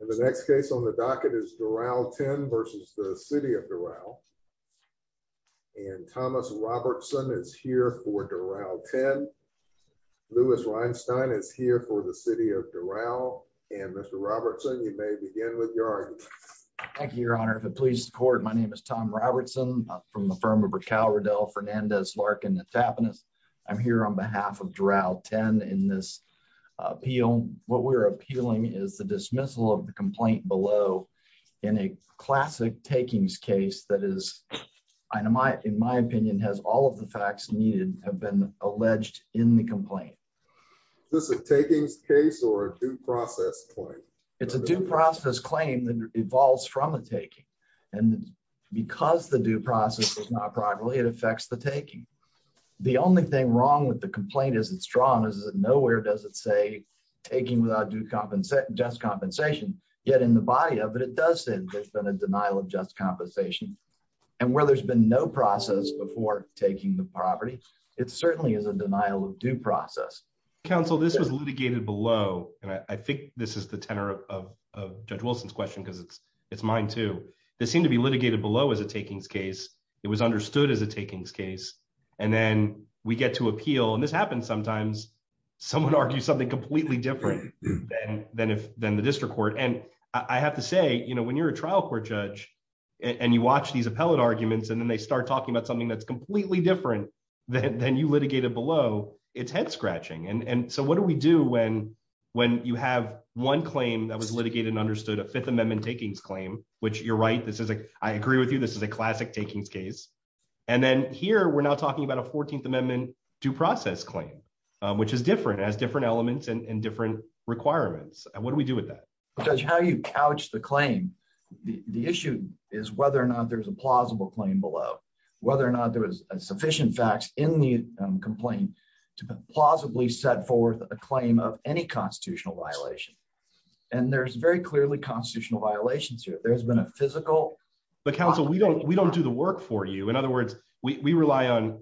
And the next case on the docket is Doral 10 v. City of Doral and Thomas Robertson is here for Doral 10. Lewis Reinstein is here for the City of Doral and Mr. Robertson, you may begin with your argument. Thank you, your honor. If it pleases the court, my name is Tom Robertson from the firm of Raquel Riddell Fernandez Larkin Tapinas. I'm here on behalf of Doral 10 in this appeal. What we're appealing is the dismissal of the complaint below in a classic takings case that is, in my opinion, has all of the facts needed to have been alleged in the complaint. Is this a takings case or a due process claim? It's a due process claim that evolves from a taking and because the due process is not properly, it affects the taking. The only thing wrong with the complaint as it's drawn is that nowhere does it say taking without just compensation, yet in the body of it, it does say there's been a denial of just compensation and where there's been no process before taking the property, it certainly is a denial of due process. Counsel, this was litigated below and I think this is the tenor of Judge Wilson's question because it's mine too. This seemed to be litigated below as a takings case. It was understood as a takings case and then we get to someone arguing something completely different than the district court. I have to say, when you're a trial court judge and you watch these appellate arguments and then they start talking about something that's completely different than you litigated below, it's head-scratching. What do we do when you have one claim that was litigated and understood, a Fifth Amendment takings claim, which you're right, I agree with you, this is a classic takings case. And then here, we're now talking about a Fourteenth Amendment due process claim, which is different, has different elements and different requirements. What do we do with that? Because how you couch the claim, the issue is whether or not there's a plausible claim below, whether or not there was sufficient facts in the complaint to plausibly set forth a claim of any constitutional violation. And there's very clearly constitutional violations here. There's been a We rely on,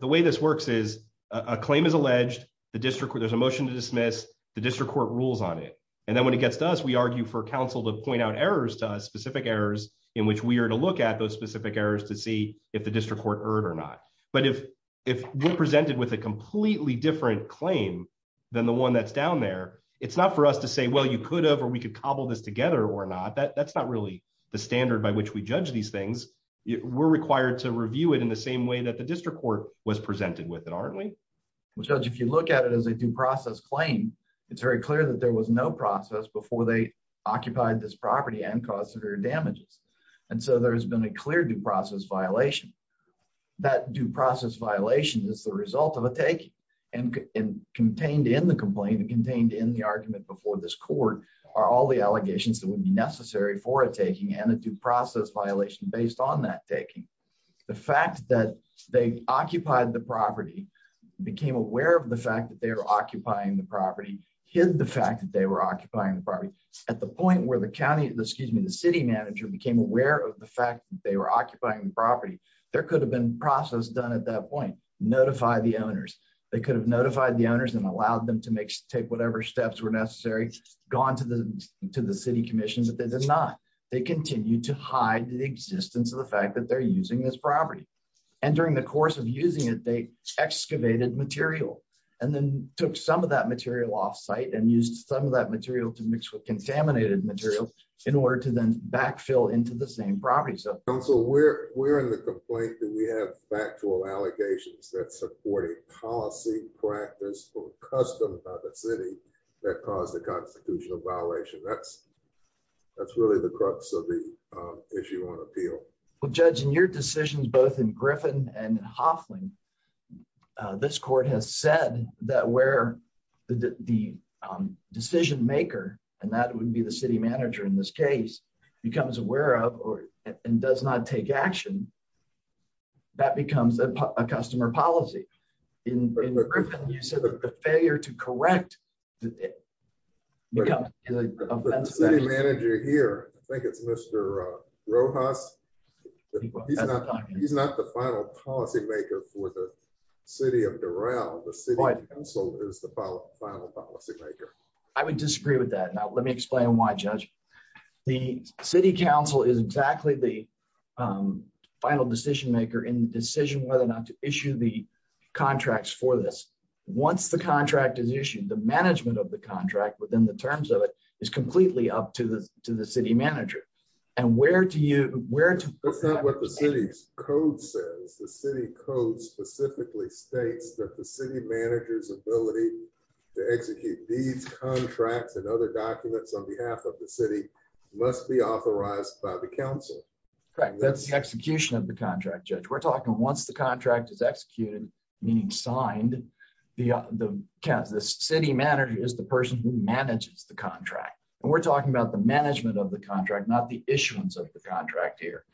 the way this works is a claim is alleged, there's a motion to dismiss, the district court rules on it. And then when it gets to us, we argue for counsel to point out errors to us, specific errors, in which we are to look at those specific errors to see if the district court erred or not. But if we're presented with a completely different claim than the one that's down there, it's not for us to say, well, you could have, or we could cobble this together or not. That's not really the standard by which we judge these things. We're required to review it in the same way that the district court was presented with it, aren't we? Judge, if you look at it as a due process claim, it's very clear that there was no process before they occupied this property and caused severe damages. And so there has been a clear due process violation. That due process violation is the result of a take and contained in the complaint and contained in the argument before this court are all the allegations that would be necessary for a taking and a due process violation based on that taking. The fact that they occupied the property, became aware of the fact that they were occupying the property, hid the fact that they were occupying the property. At the point where the county, excuse me, the city manager became aware of the fact that they were occupying the property, there could have been process done at that point, notify the owners. They could have notified the owners and allowed them to make, take whatever steps were necessary, gone to the city commission, but they did not. They continued to hide the existence of the fact that they're using this property. And during the course of using it, they excavated material and then took some of that material off site and used some of that material to mix with contaminated material in order to then backfill into the same property. So we're, we're in the complaint that we have factual allegations that support a policy practice or custom of a city that caused the constitutional violation. That's, that's really the crux of the issue on appeal. Well, judge, in your decisions, both in Griffin and Hoffling, this court has said that where the decision maker, and that would be the city manager in this case, becomes aware of, or, and does not take action, that becomes a customer policy. In Griffin, you said that the failure to correct... The city manager here, I think it's Mr. Rojas, he's not, he's not the final policymaker for the city of Doral. The city council is the The city council is exactly the final decision maker in the decision whether or not to issue the contracts for this. Once the contract is issued, the management of the contract within the terms of it is completely up to the, to the city manager. And where do you, where... That's not what the city's code says. The city code specifically states that the city manager's documents on behalf of the city must be authorized by the council. Correct. That's the execution of the contract, judge. We're talking once the contract is executed, meaning signed, the, the city manager is the person who manages the contract. And we're talking about the management of the contract, not the issuance of the contract here.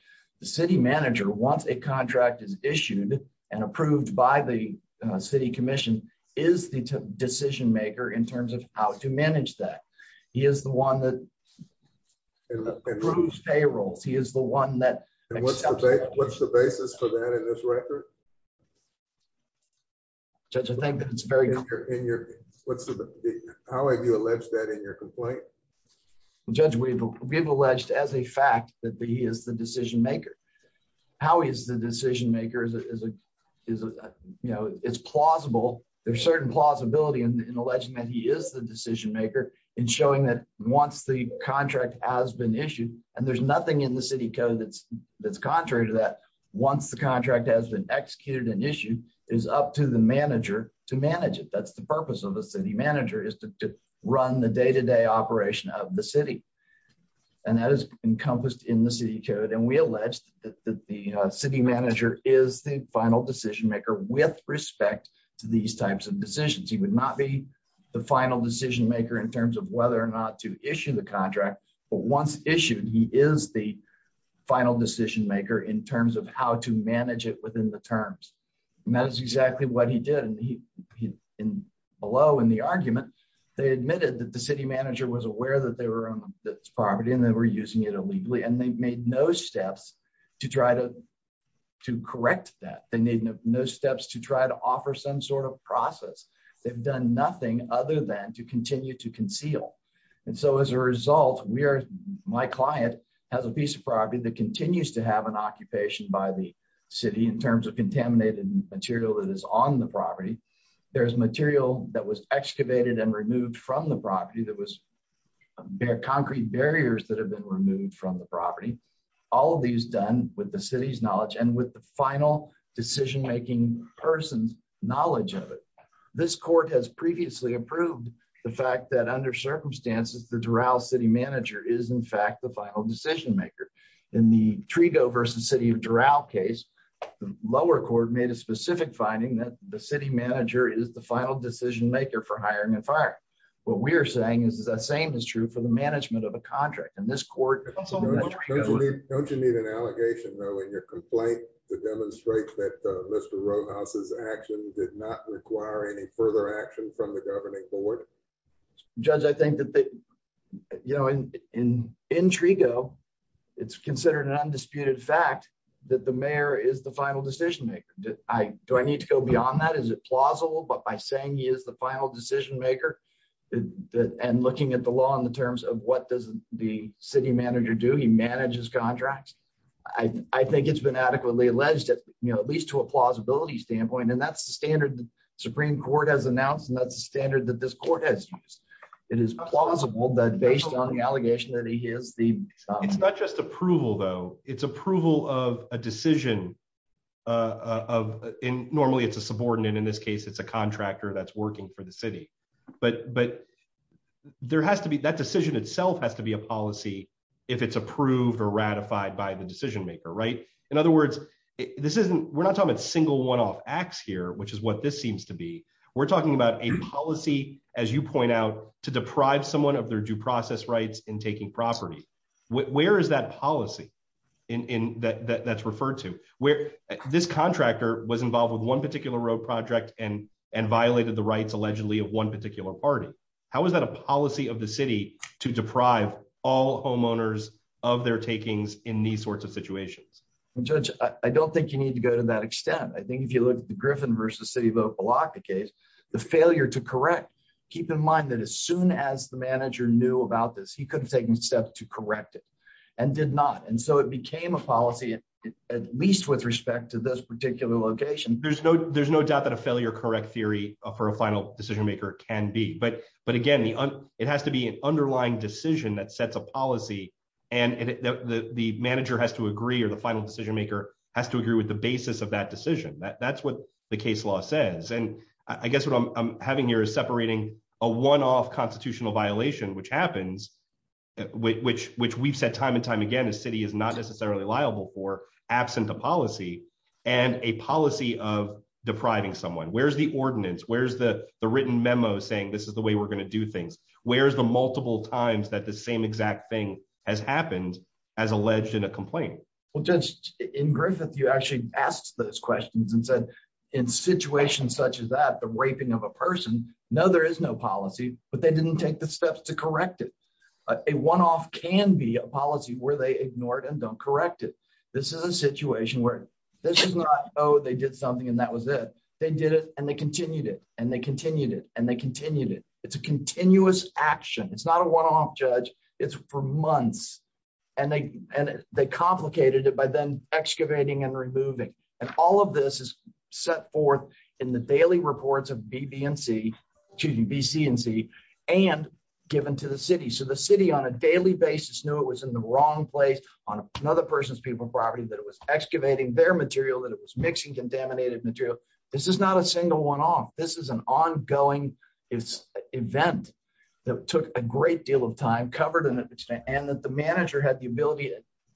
The city manager, once a contract is issued and approved by the city commission, is the decision maker in terms of how to manage that. He is the one that approves payrolls. He is the one that... What's the basis for that in this record? Judge, I think that it's very... How have you alleged that in your complaint? Judge, we've, we've alleged as a fact that he is the decision maker. How he is the decision maker is, you know, it's plausible. There's certain plausibility in alleging that he is the decision maker in showing that once the contract has been issued, and there's nothing in the city code that's, that's contrary to that. Once the contract has been executed and issued, it is up to the manager to manage it. That's the purpose of the city manager, is to run the day-to-day operation of the city. And that is encompassed in the city code. And we alleged that the city manager is the final decision maker with respect to these types of decisions. He would not be the final decision maker in terms of whether or not to issue the contract. But once issued, he is the final decision maker in terms of how to manage it within the terms. And that is exactly what he did. And he, in, below in the argument, they admitted that the city manager was aware that they were on this property and they were using it illegally. And to correct that, they need no steps to try to offer some sort of process. They've done nothing other than to continue to conceal. And so as a result, we are, my client has a piece of property that continues to have an occupation by the city in terms of contaminated material that is on the property. There's material that was excavated and removed from the property that was, concrete barriers that have been removed from the property. All of these done with the city's final decision-making person's knowledge of it. This court has previously approved the fact that under circumstances, the Doral city manager is in fact the final decision maker. In the Trigo versus city of Doral case, the lower court made a specific finding that the city manager is the final decision maker for hiring and firing. What we're saying is the same is true for the management of a contract. And this court- Don't you need an allegation though in your complaint? To demonstrate that Mr. Rowhouse's action did not require any further action from the governing board? Judge, I think that, you know, in Trigo, it's considered an undisputed fact that the mayor is the final decision maker. Do I need to go beyond that? Is it plausible? But by saying he is the final decision maker and looking at the law in the terms of what does the city do? He manages contracts. I think it's been adequately alleged at least to a plausibility standpoint. And that's the standard that the Supreme Court has announced. And that's the standard that this court has used. It is plausible that based on the allegation that he is the- It's not just approval though. It's approval of a decision. Normally it's a subordinate. In this case, it's a contractor that's working for the city. But that decision itself has to be a policy if it's approved or ratified by the decision maker, right? In other words, this isn't- We're not talking about single one-off acts here, which is what this seems to be. We're talking about a policy, as you point out, to deprive someone of their due process rights in taking property. Where is that policy that's referred to? This contractor was involved with one particular road project and violated the rights allegedly of one particular party. How is that a policy of the city to deprive all homeowners of their takings in these sorts of situations? Judge, I don't think you need to go to that extent. I think if you look at the Griffin versus City of Opa-Locka case, the failure to correct, keep in mind that as soon as the manager knew about this, he could have taken steps to correct it and did not. And so it became a policy, at least with respect to this particular location. There's no doubt that a failure correct theory for a final decision maker can be. But again, it has to be an underlying decision that sets a policy and the manager has to agree or the final decision maker has to agree with the basis of that decision. That's what the case law says. And I guess what I'm having here is separating a one-off constitutional violation, which happens, which we've said time and time again, a city is not necessarily liable for, absent a policy, and a policy of depriving someone. Where's the ordinance? Where's the written memo saying this is the way we're going to do things? Where's the multiple times that the same exact thing has happened as alleged in a complaint? Well, Judge, in Griffith, you actually asked those questions and said, in situations such as that, the raping of a person, no, there is no policy, but they didn't take the steps to correct it. A one-off can be a policy where they ignore it and don't correct it. This is a situation where this is not, oh, they did something and that was it. They did it and they continued it and they continued it and they continued it. It's a continuous action. It's not a one-off, Judge. It's for months. And they complicated it by then excavating and removing. And all of this is set forth in the daily reports of BB&C, excuse me, BC&C, and given to the city. So the city on a daily basis knew it was in the wrong place on another person's people property that it was mixing contaminated material. This is not a single one-off. This is an ongoing event that took a great deal of time, covered an extent, and that the manager had the ability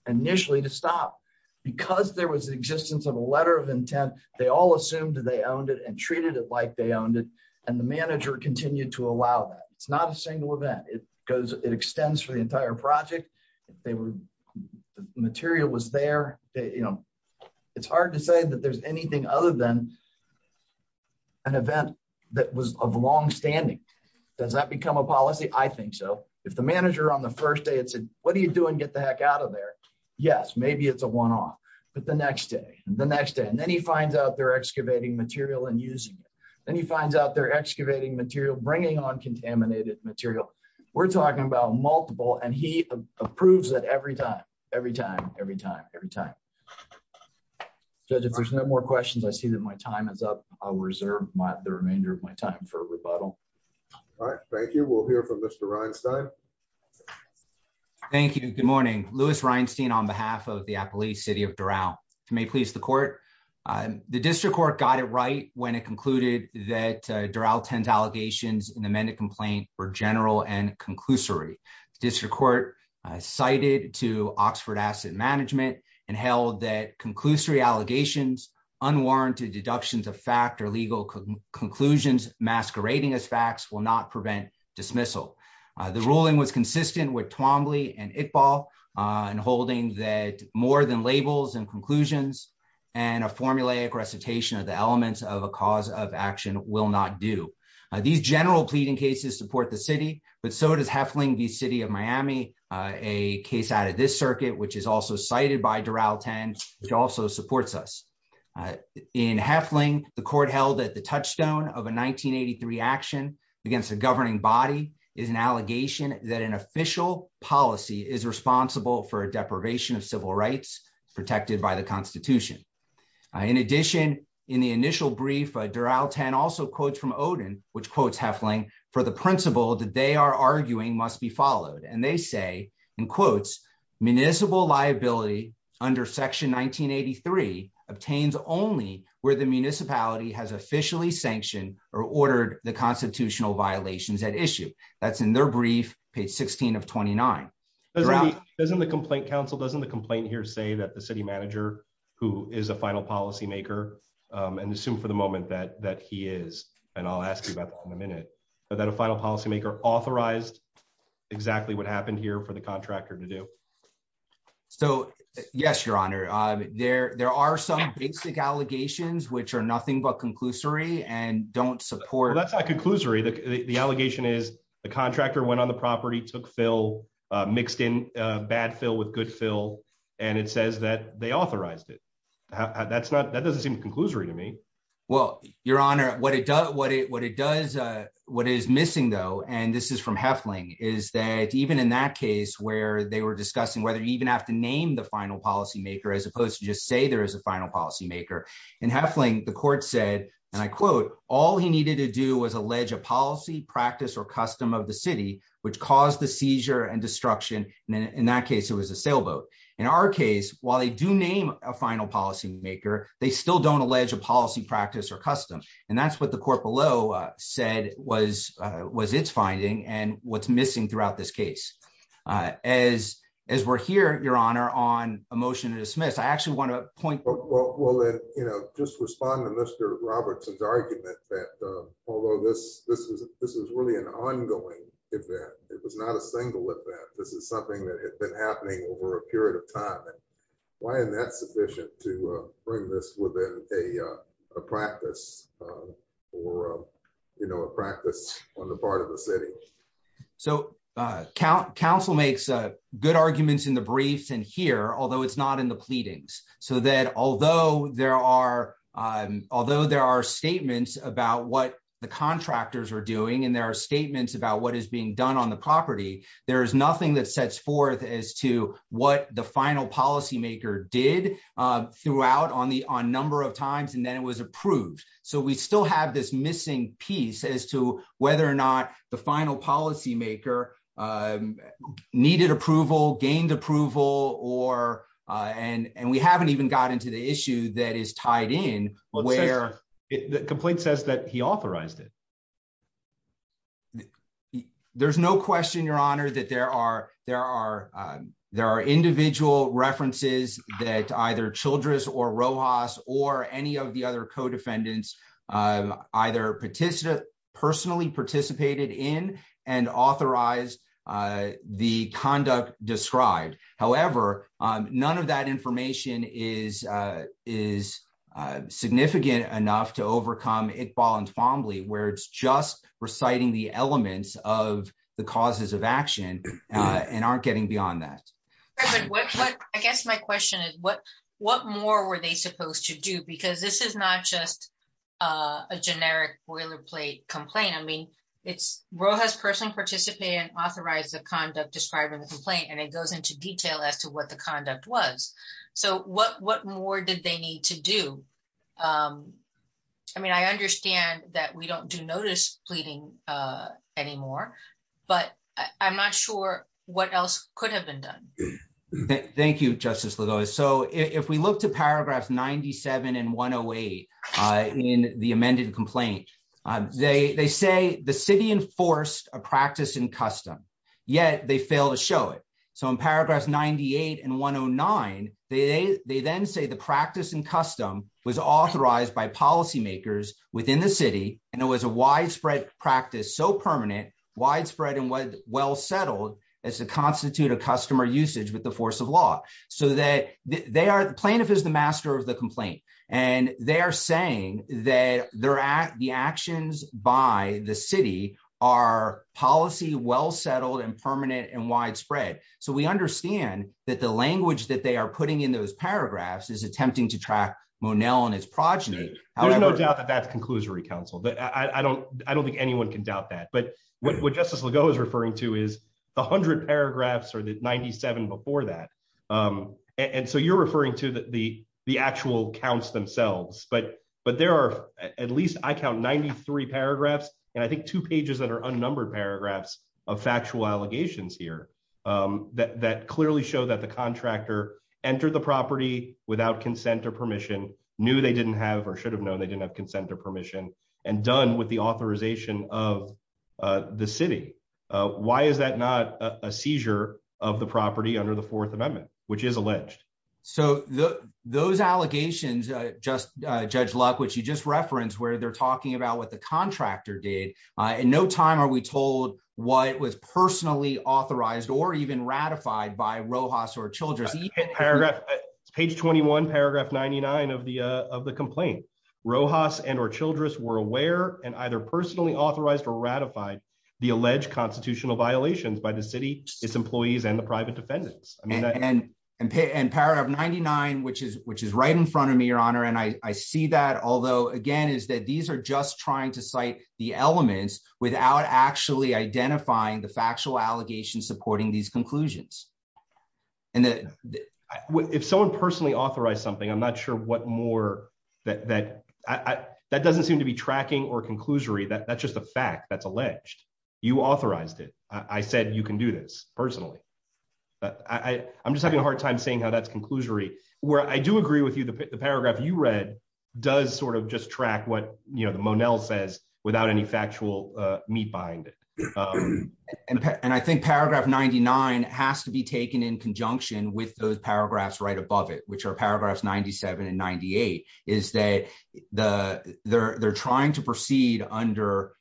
initially to stop. Because there was the existence of a letter of intent, they all assumed they owned it and treated it like they owned it. And the manager continued to allow that. It's not a single event. It extends for the entire project. The material was there. It's hard to say that there's anything other than an event that was of longstanding. Does that become a policy? I think so. If the manager on the first day had said, what are you doing? Get the heck out of there. Yes, maybe it's a one-off. But the next day, the next day, and then he finds out they're excavating material and using it. Then he finds out they're excavating material, bringing on contaminated material. We're talking about multiple, and he approves it every time, every time, every time, every time. Judge, if there's no more questions, I see that my time is up. I'll reserve the remainder of my time for rebuttal. All right. Thank you. We'll hear from Mr. Reinstein. Thank you. Good morning. Louis Reinstein on behalf of the Appalachian City of Doral. If you may please the court. The district court got it right when it concluded that Doral tends an amended complaint for general and conclusory. District court cited to Oxford Asset Management and held that conclusory allegations, unwarranted deductions of fact or legal conclusions masquerading as facts will not prevent dismissal. The ruling was consistent with Twombly and Iqbal and holding that more than labels and conclusions and a formulaic recitation of the elements of a action will not do. These general pleading cases support the city, but so does Hefling v. City of Miami, a case out of this circuit, which is also cited by Doral 10, which also supports us. In Hefling, the court held that the touchstone of a 1983 action against a governing body is an allegation that an official policy is responsible for a deprivation of civil rights protected by constitution. In addition, in the initial brief, Doral 10 also quotes from Odin, which quotes Hefling for the principle that they are arguing must be followed and they say, in quotes, municipal liability under section 1983 obtains only where the municipality has officially sanctioned or ordered the constitutional violations at issue. That's in their brief, page 16 of 29. Doesn't the complaint counsel, doesn't the complaint here say that the city manager, who is a final policymaker, and assume for the moment that he is, and I'll ask you about that in a minute, but that a final policymaker authorized exactly what happened here for the contractor to do? So yes, your honor, there are some basic allegations which are nothing but conclusory and don't support. That's not conclusory. The allegation is the contractor went on the property, took fill, mixed in bad fill with good fill, and it says that they authorized it. That's not, that doesn't seem conclusory to me. Well, your honor, what it does, what it does, what is missing though, and this is from Hefling, is that even in that case where they were discussing whether you even have to name the final policymaker as opposed to just say there is a final policymaker. In Hefling, the court said, and I quote, all he needed to do was of the city, which caused the seizure and destruction, and in that case, it was a sailboat. In our case, while they do name a final policymaker, they still don't allege a policy practice or custom, and that's what the court below said was its finding and what's missing throughout this case. As we're here, your honor, on a motion to dismiss, I actually want to point Well, then, you know, just respond to Mr. Robertson's argument that although this is really an ongoing event, it was not a single event. This is something that had been happening over a period of time. Why isn't that sufficient to bring this within a practice or, you know, a practice on the part of the city? So, counsel makes good arguments in the briefs and here, although it's not in the pleadings, so that although there are statements about what the contractors are doing and there are statements about what is being done on the property, there is nothing that sets forth as to what the final policymaker did throughout on number of times and then it was approved. So, we still have this missing piece as to whether or not the final policymaker needed approval, gained approval, and we haven't even got into the issue that is tied in. The complaint says that he authorized it. There's no question, your honor, that there are individual references that either Childress or authorized the conduct described. However, none of that information is significant enough to overcome Iqbal and Fomley where it's just reciting the elements of the causes of action and aren't getting beyond that. I guess my question is what more were they supposed to do because this is not a generic boilerplate complaint. I mean, Rojas personally participated and authorized the conduct describing the complaint and it goes into detail as to what the conduct was. So, what more did they need to do? I mean, I understand that we don't do notice pleading anymore, but I'm not sure what else could have been done. Thank you, Justice Lugo. So, if we look to paragraphs 97 and 108 in the amended complaint, they say the city enforced a practice in custom, yet they fail to show it. So, in paragraphs 98 and 109, they then say the practice in custom was authorized by policymakers within the city and it was a widespread practice, so permanent, widespread, and well settled as to constitute a customer usage with the force of law. So, the plaintiff is the master of the complaint and they are saying that the actions by the city are policy, well settled, and permanent, and widespread. So, we understand that the language that they are putting in those paragraphs is attempting to track Monell and his progeny. There's no doubt that that's conclusory counsel. I don't think anyone can doubt that, but what and so you're referring to the actual counts themselves, but there are at least, I count, 93 paragraphs and I think two pages that are unnumbered paragraphs of factual allegations here that clearly show that the contractor entered the property without consent or permission, knew they didn't have or should have known they didn't have consent or permission, and done with the authorization of the city. Why is that not a seizure of the property under the So, those allegations, Judge Luck, which you just referenced where they're talking about what the contractor did, in no time are we told what was personally authorized or even ratified by Rojas or Childress. It's page 21, paragraph 99 of the complaint. Rojas and or Childress were aware and either personally authorized or ratified the alleged constitutional violations by the city, its employees, and the private defendants. And paragraph 99, which is right in front of me, your honor, and I see that, although again, is that these are just trying to cite the elements without actually identifying the factual allegations supporting these conclusions. If someone personally authorized something, I'm not sure what more that doesn't seem to be tracking or conclusory. That's just a fact that's alleged. You authorized it. I said you can do this personally. I'm just having a hard time seeing how that's conclusory. Where I do agree with you, the paragraph you read does sort of just track what, you know, the Monell says without any factual meat behind it. And I think paragraph 99 has to be taken in conjunction with those paragraphs right above it, which are paragraphs 97 and 98, is that they're trying to proceed under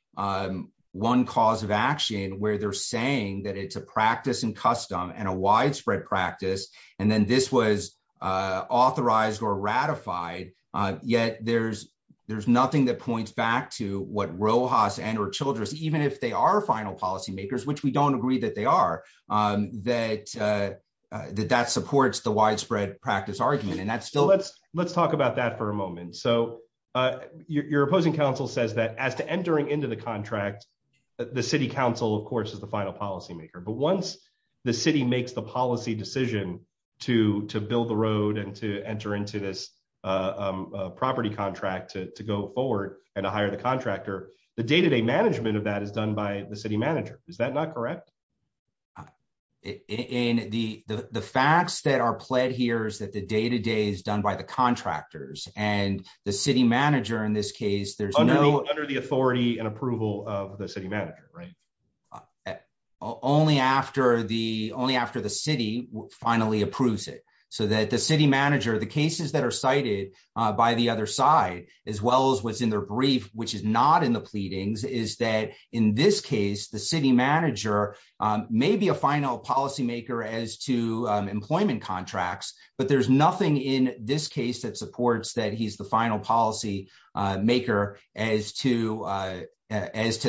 one cause of action where they're saying that it's a practice and custom and a widespread practice. And then this was authorized or ratified. Yet there's nothing that points back to what Rojas and or Childress, even if they are final policymakers, which we don't agree that they are, that supports the widespread practice argument. And that's still... Your opposing counsel says that as to entering into the contract, the city council, of course, is the final policymaker. But once the city makes the policy decision to build the road and to enter into this property contract to go forward and to hire the contractor, the day-to-day management of that is done by the city manager. Is that not correct? The facts that are pled here is that day-to-day is done by the contractors and the city manager in this case, there's no... Under the authority and approval of the city manager, right? Only after the city finally approves it. So that the city manager, the cases that are cited by the other side, as well as what's in their brief, which is not in the pleadings, is that in this case, the city manager may be a final policymaker as to employment contracts, but there's nothing in this case that supports that he's the final policymaker as to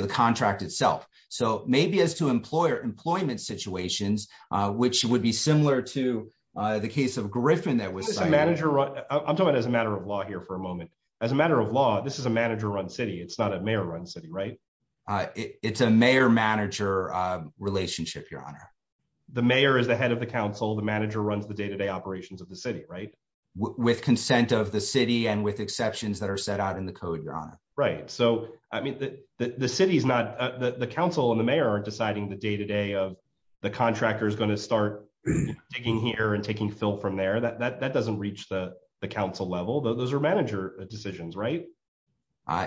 the contract itself. So maybe as to employment situations, which would be similar to the case of Griffin that was cited. I'm talking as a matter of law here for a moment. As a matter of law, this is a manager-run city. It's not a mayor-run city, right? It's a mayor-manager relationship, Your Honor. The mayor is the head of the council. The manager runs the day-to-day operations of the city, right? With consent of the city and with exceptions that are set out in the code, Your Honor. Right. So, I mean, the city is not... The council and the mayor aren't deciding the day-to-day of the contractor is going to start digging here and taking fill from there. That doesn't reach the council level. Those are manager decisions, right?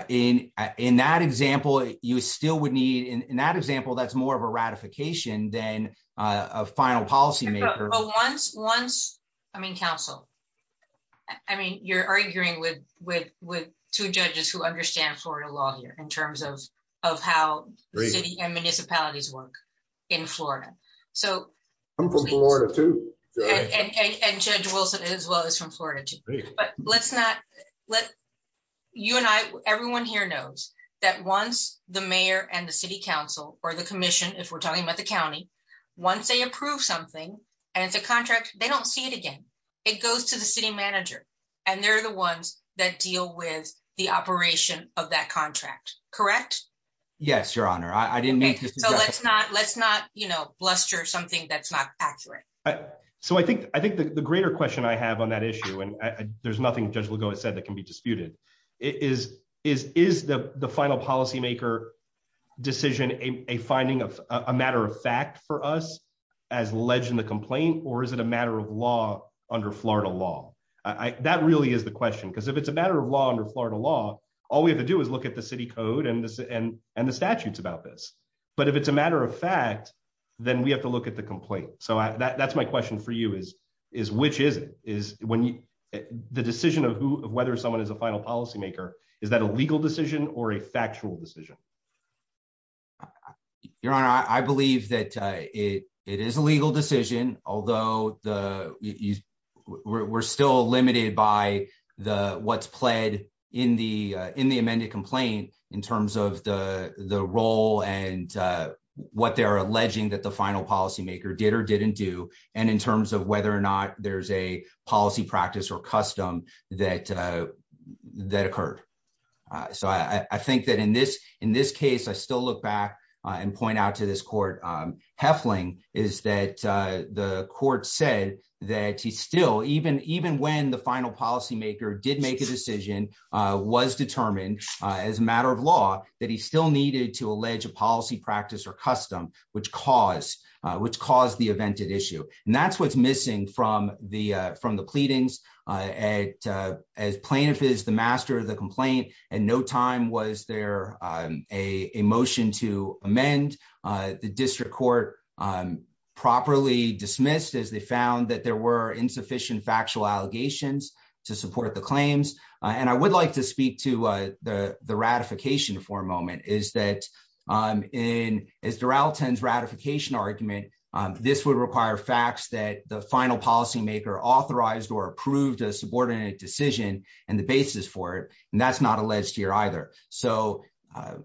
In that example, you still would need... In that example, that's more of a ratification than a final policymaker. Once... I mean, counsel, I mean, you're arguing with two judges who understand Florida law here in terms of how the city and municipalities work in Florida. So... I'm from Florida, too. And Judge Wilson as well is from Florida, too. But let's not... You and I, everyone here knows that once the mayor and the city council or the commission, if we're talking about the county, once they approve something and it's a contract, they don't see it again. It goes to the city manager and they're the ones that deal with the operation of that contract. Correct? Yes, Your Honor. I didn't mean to... So, let's not bluster something that's not accurate. So, I think the greater question I have on that issue, and there's nothing Judge Lugo has said that can be disputed, is the final policymaker decision a finding of a matter of fact for us as alleged in the complaint, or is it a matter of law under Florida law? That really is the question. Because if it's a matter of law under Florida law, all we have to do is look at the city code and the statutes about this. But if it's a matter of fact, then we have to look at the complaint. So, that's my question for you, is which is it? The decision of whether someone is a final policymaker, is that a legal decision or a factual decision? Your Honor, I believe that it is a legal decision, although we're still limited by what's pled in the amended complaint in terms of the role and what they're alleging that the final policymaker did or didn't do, and in terms of whether or not there's a policy practice or custom that occurred. So, I think that in this case, I still look back and point out to this court, Hefling, is that the court said that he still, even when the final policymaker did make a decision, was determined as a matter of law, that he still needed to allege a policy practice or custom, which caused the evented issue. And that's what's missing from the pleadings. As plaintiff is the master of the complaint, at no time was there a motion to amend. The district court properly dismissed as they found that there were insufficient factual allegations to support the ratification argument. This would require facts that the final policymaker authorized or approved a subordinate decision and the basis for it, and that's not alleged here either. So,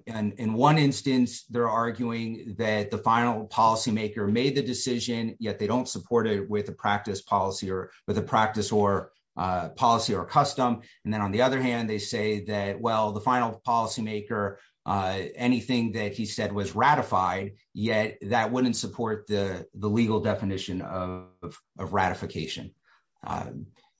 in one instance, they're arguing that the final policymaker made the decision, yet they don't support it with a practice policy or with a practice or policy or custom. And then on the other hand, they say that, the final policymaker, anything that he said was ratified, yet that wouldn't support the legal definition of ratification.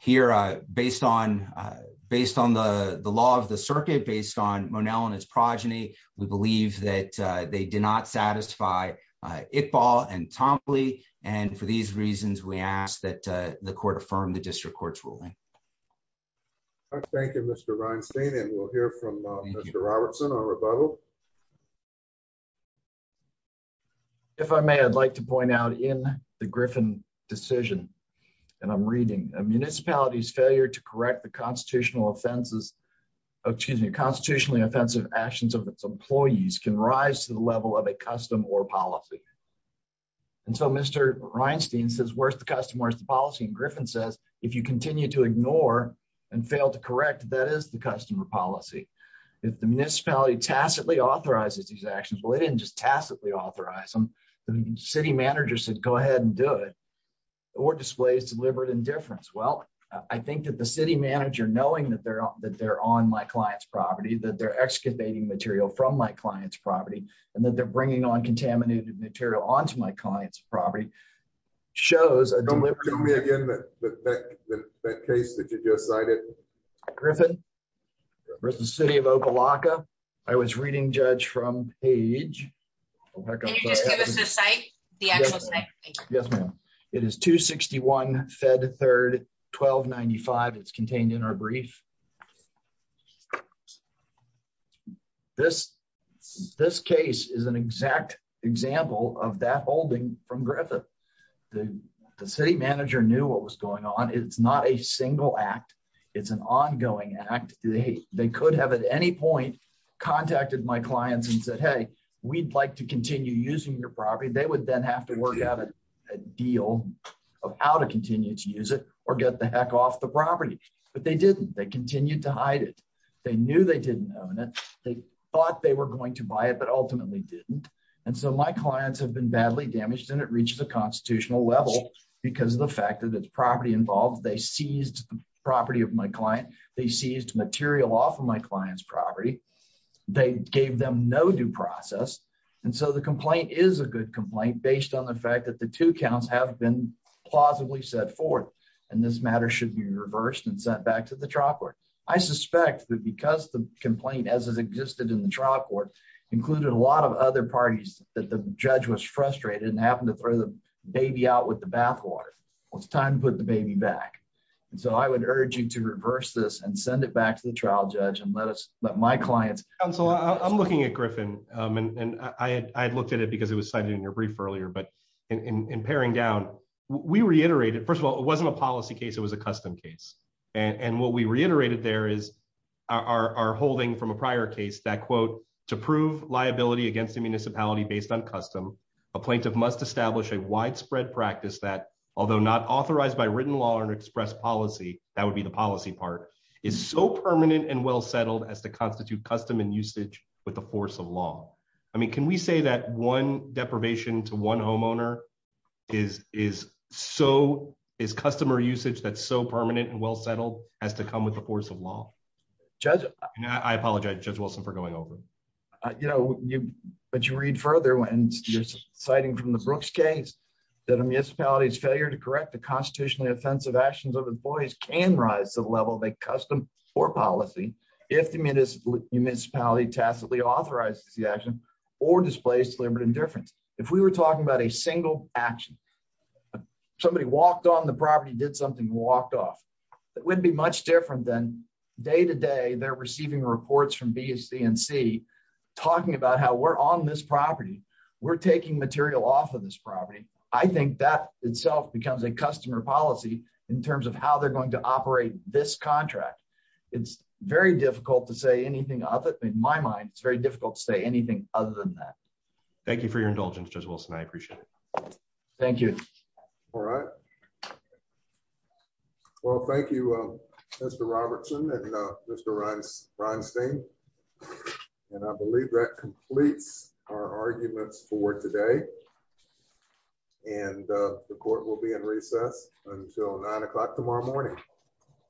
Here, based on the law of the circuit, based on Monell and his progeny, we believe that they did not satisfy Iqbal and Tompley. And for these reasons, we ask that the court affirm the district court's ruling. Thank you, Mr. Reinstein. And we'll hear from Mr. Robertson on rebuttal. If I may, I'd like to point out in the Griffin decision, and I'm reading, a municipality's failure to correct the constitutional offenses, excuse me, constitutionally offensive actions of its employees can rise to the level of a custom or policy. And so Mr. Reinstein says, where's the custom, where's the policy? And Griffin says, if you continue to ignore and fail to correct, that is the custom or policy. If the municipality tacitly authorizes these actions, well, they didn't just tacitly authorize them. The city manager said, go ahead and do it, or displays deliberate indifference. Well, I think that the city manager, knowing that they're on my client's property, that they're excavating material from my client's property, and that they're bringing on contaminated material onto my client's property, shows a deliberate- Show me again that case that you just cited. Griffin versus City of Oklahoma. I was reading, Judge, from Paige. Can you just give us the site, the actual site? Yes, ma'am. It is 261 Fed Third 1295. It's contained in our brief. This case is an exact example of that holding from Griffin. The city manager knew what was going on. It's not a single act. It's an ongoing act. They could have at any point contacted my clients and said, hey, we'd like to continue using your property. They would then have to work out a deal of how to continue to use it or get the heck off the property. But they didn't. They continued to hide it. They knew they didn't own it. They thought they were going to buy it, but ultimately didn't. My clients have been badly damaged, and it reached the constitutional level because of the fact that it's property-involved. They seized the property of my client. They seized material off of my client's property. They gave them no due process. The complaint is a good complaint based on the fact that the two counts have been plausibly set forth. This matter should be reversed and sent back to the trial court. I suspect that because the complaint, as it existed in the trial court, included a lot of other parties that the judge was frustrated and happened to throw the baby out with the bathwater, it's time to put the baby back. I would urge you to reverse this and send it back to the trial judge and let my clients- Counsel, I'm looking at Griffin. I had looked at it because it was cited in your brief earlier, but in paring down, we reiterated, first of all, it wasn't a policy case. It was a custom case. What we reiterated there is our holding from a prior case that, quote, to prove liability against a municipality based on custom, a plaintiff must establish a widespread practice that, although not authorized by written law or expressed policy, that would be the policy part, is so permanent and well-settled as to constitute custom and usage with the force of law. Can we say that one deprivation to one homeowner is customer usage that's so permanent and well-settled has to come with the force of law? I apologize, Judge Wilson, for going over. But you read further when you're citing from the Brooks case that a municipality's failure to correct the constitutionally offensive actions of employees can rise to the level of a custom or policy if the municipality tacitly authorizes the action or displays deliberate indifference. If we were talking about a single action, somebody walked on the property, did something, walked off, it wouldn't be much different than day-to-day they're receiving reports from B, C, and C talking about how we're on this property, we're taking material off of this property. I think that itself becomes a customer policy in terms of how they're going to operate this contract. It's very difficult to say anything of it. In my mind, it's very difficult to say anything other than that. Thank you for your indulgence, Judge Wilson. I appreciate it. Thank you. All right. Well, thank you, Mr. Robertson and Mr. Reinstein. And I believe that completes our arguments for today. And the court will be in recess until nine o'clock tomorrow morning.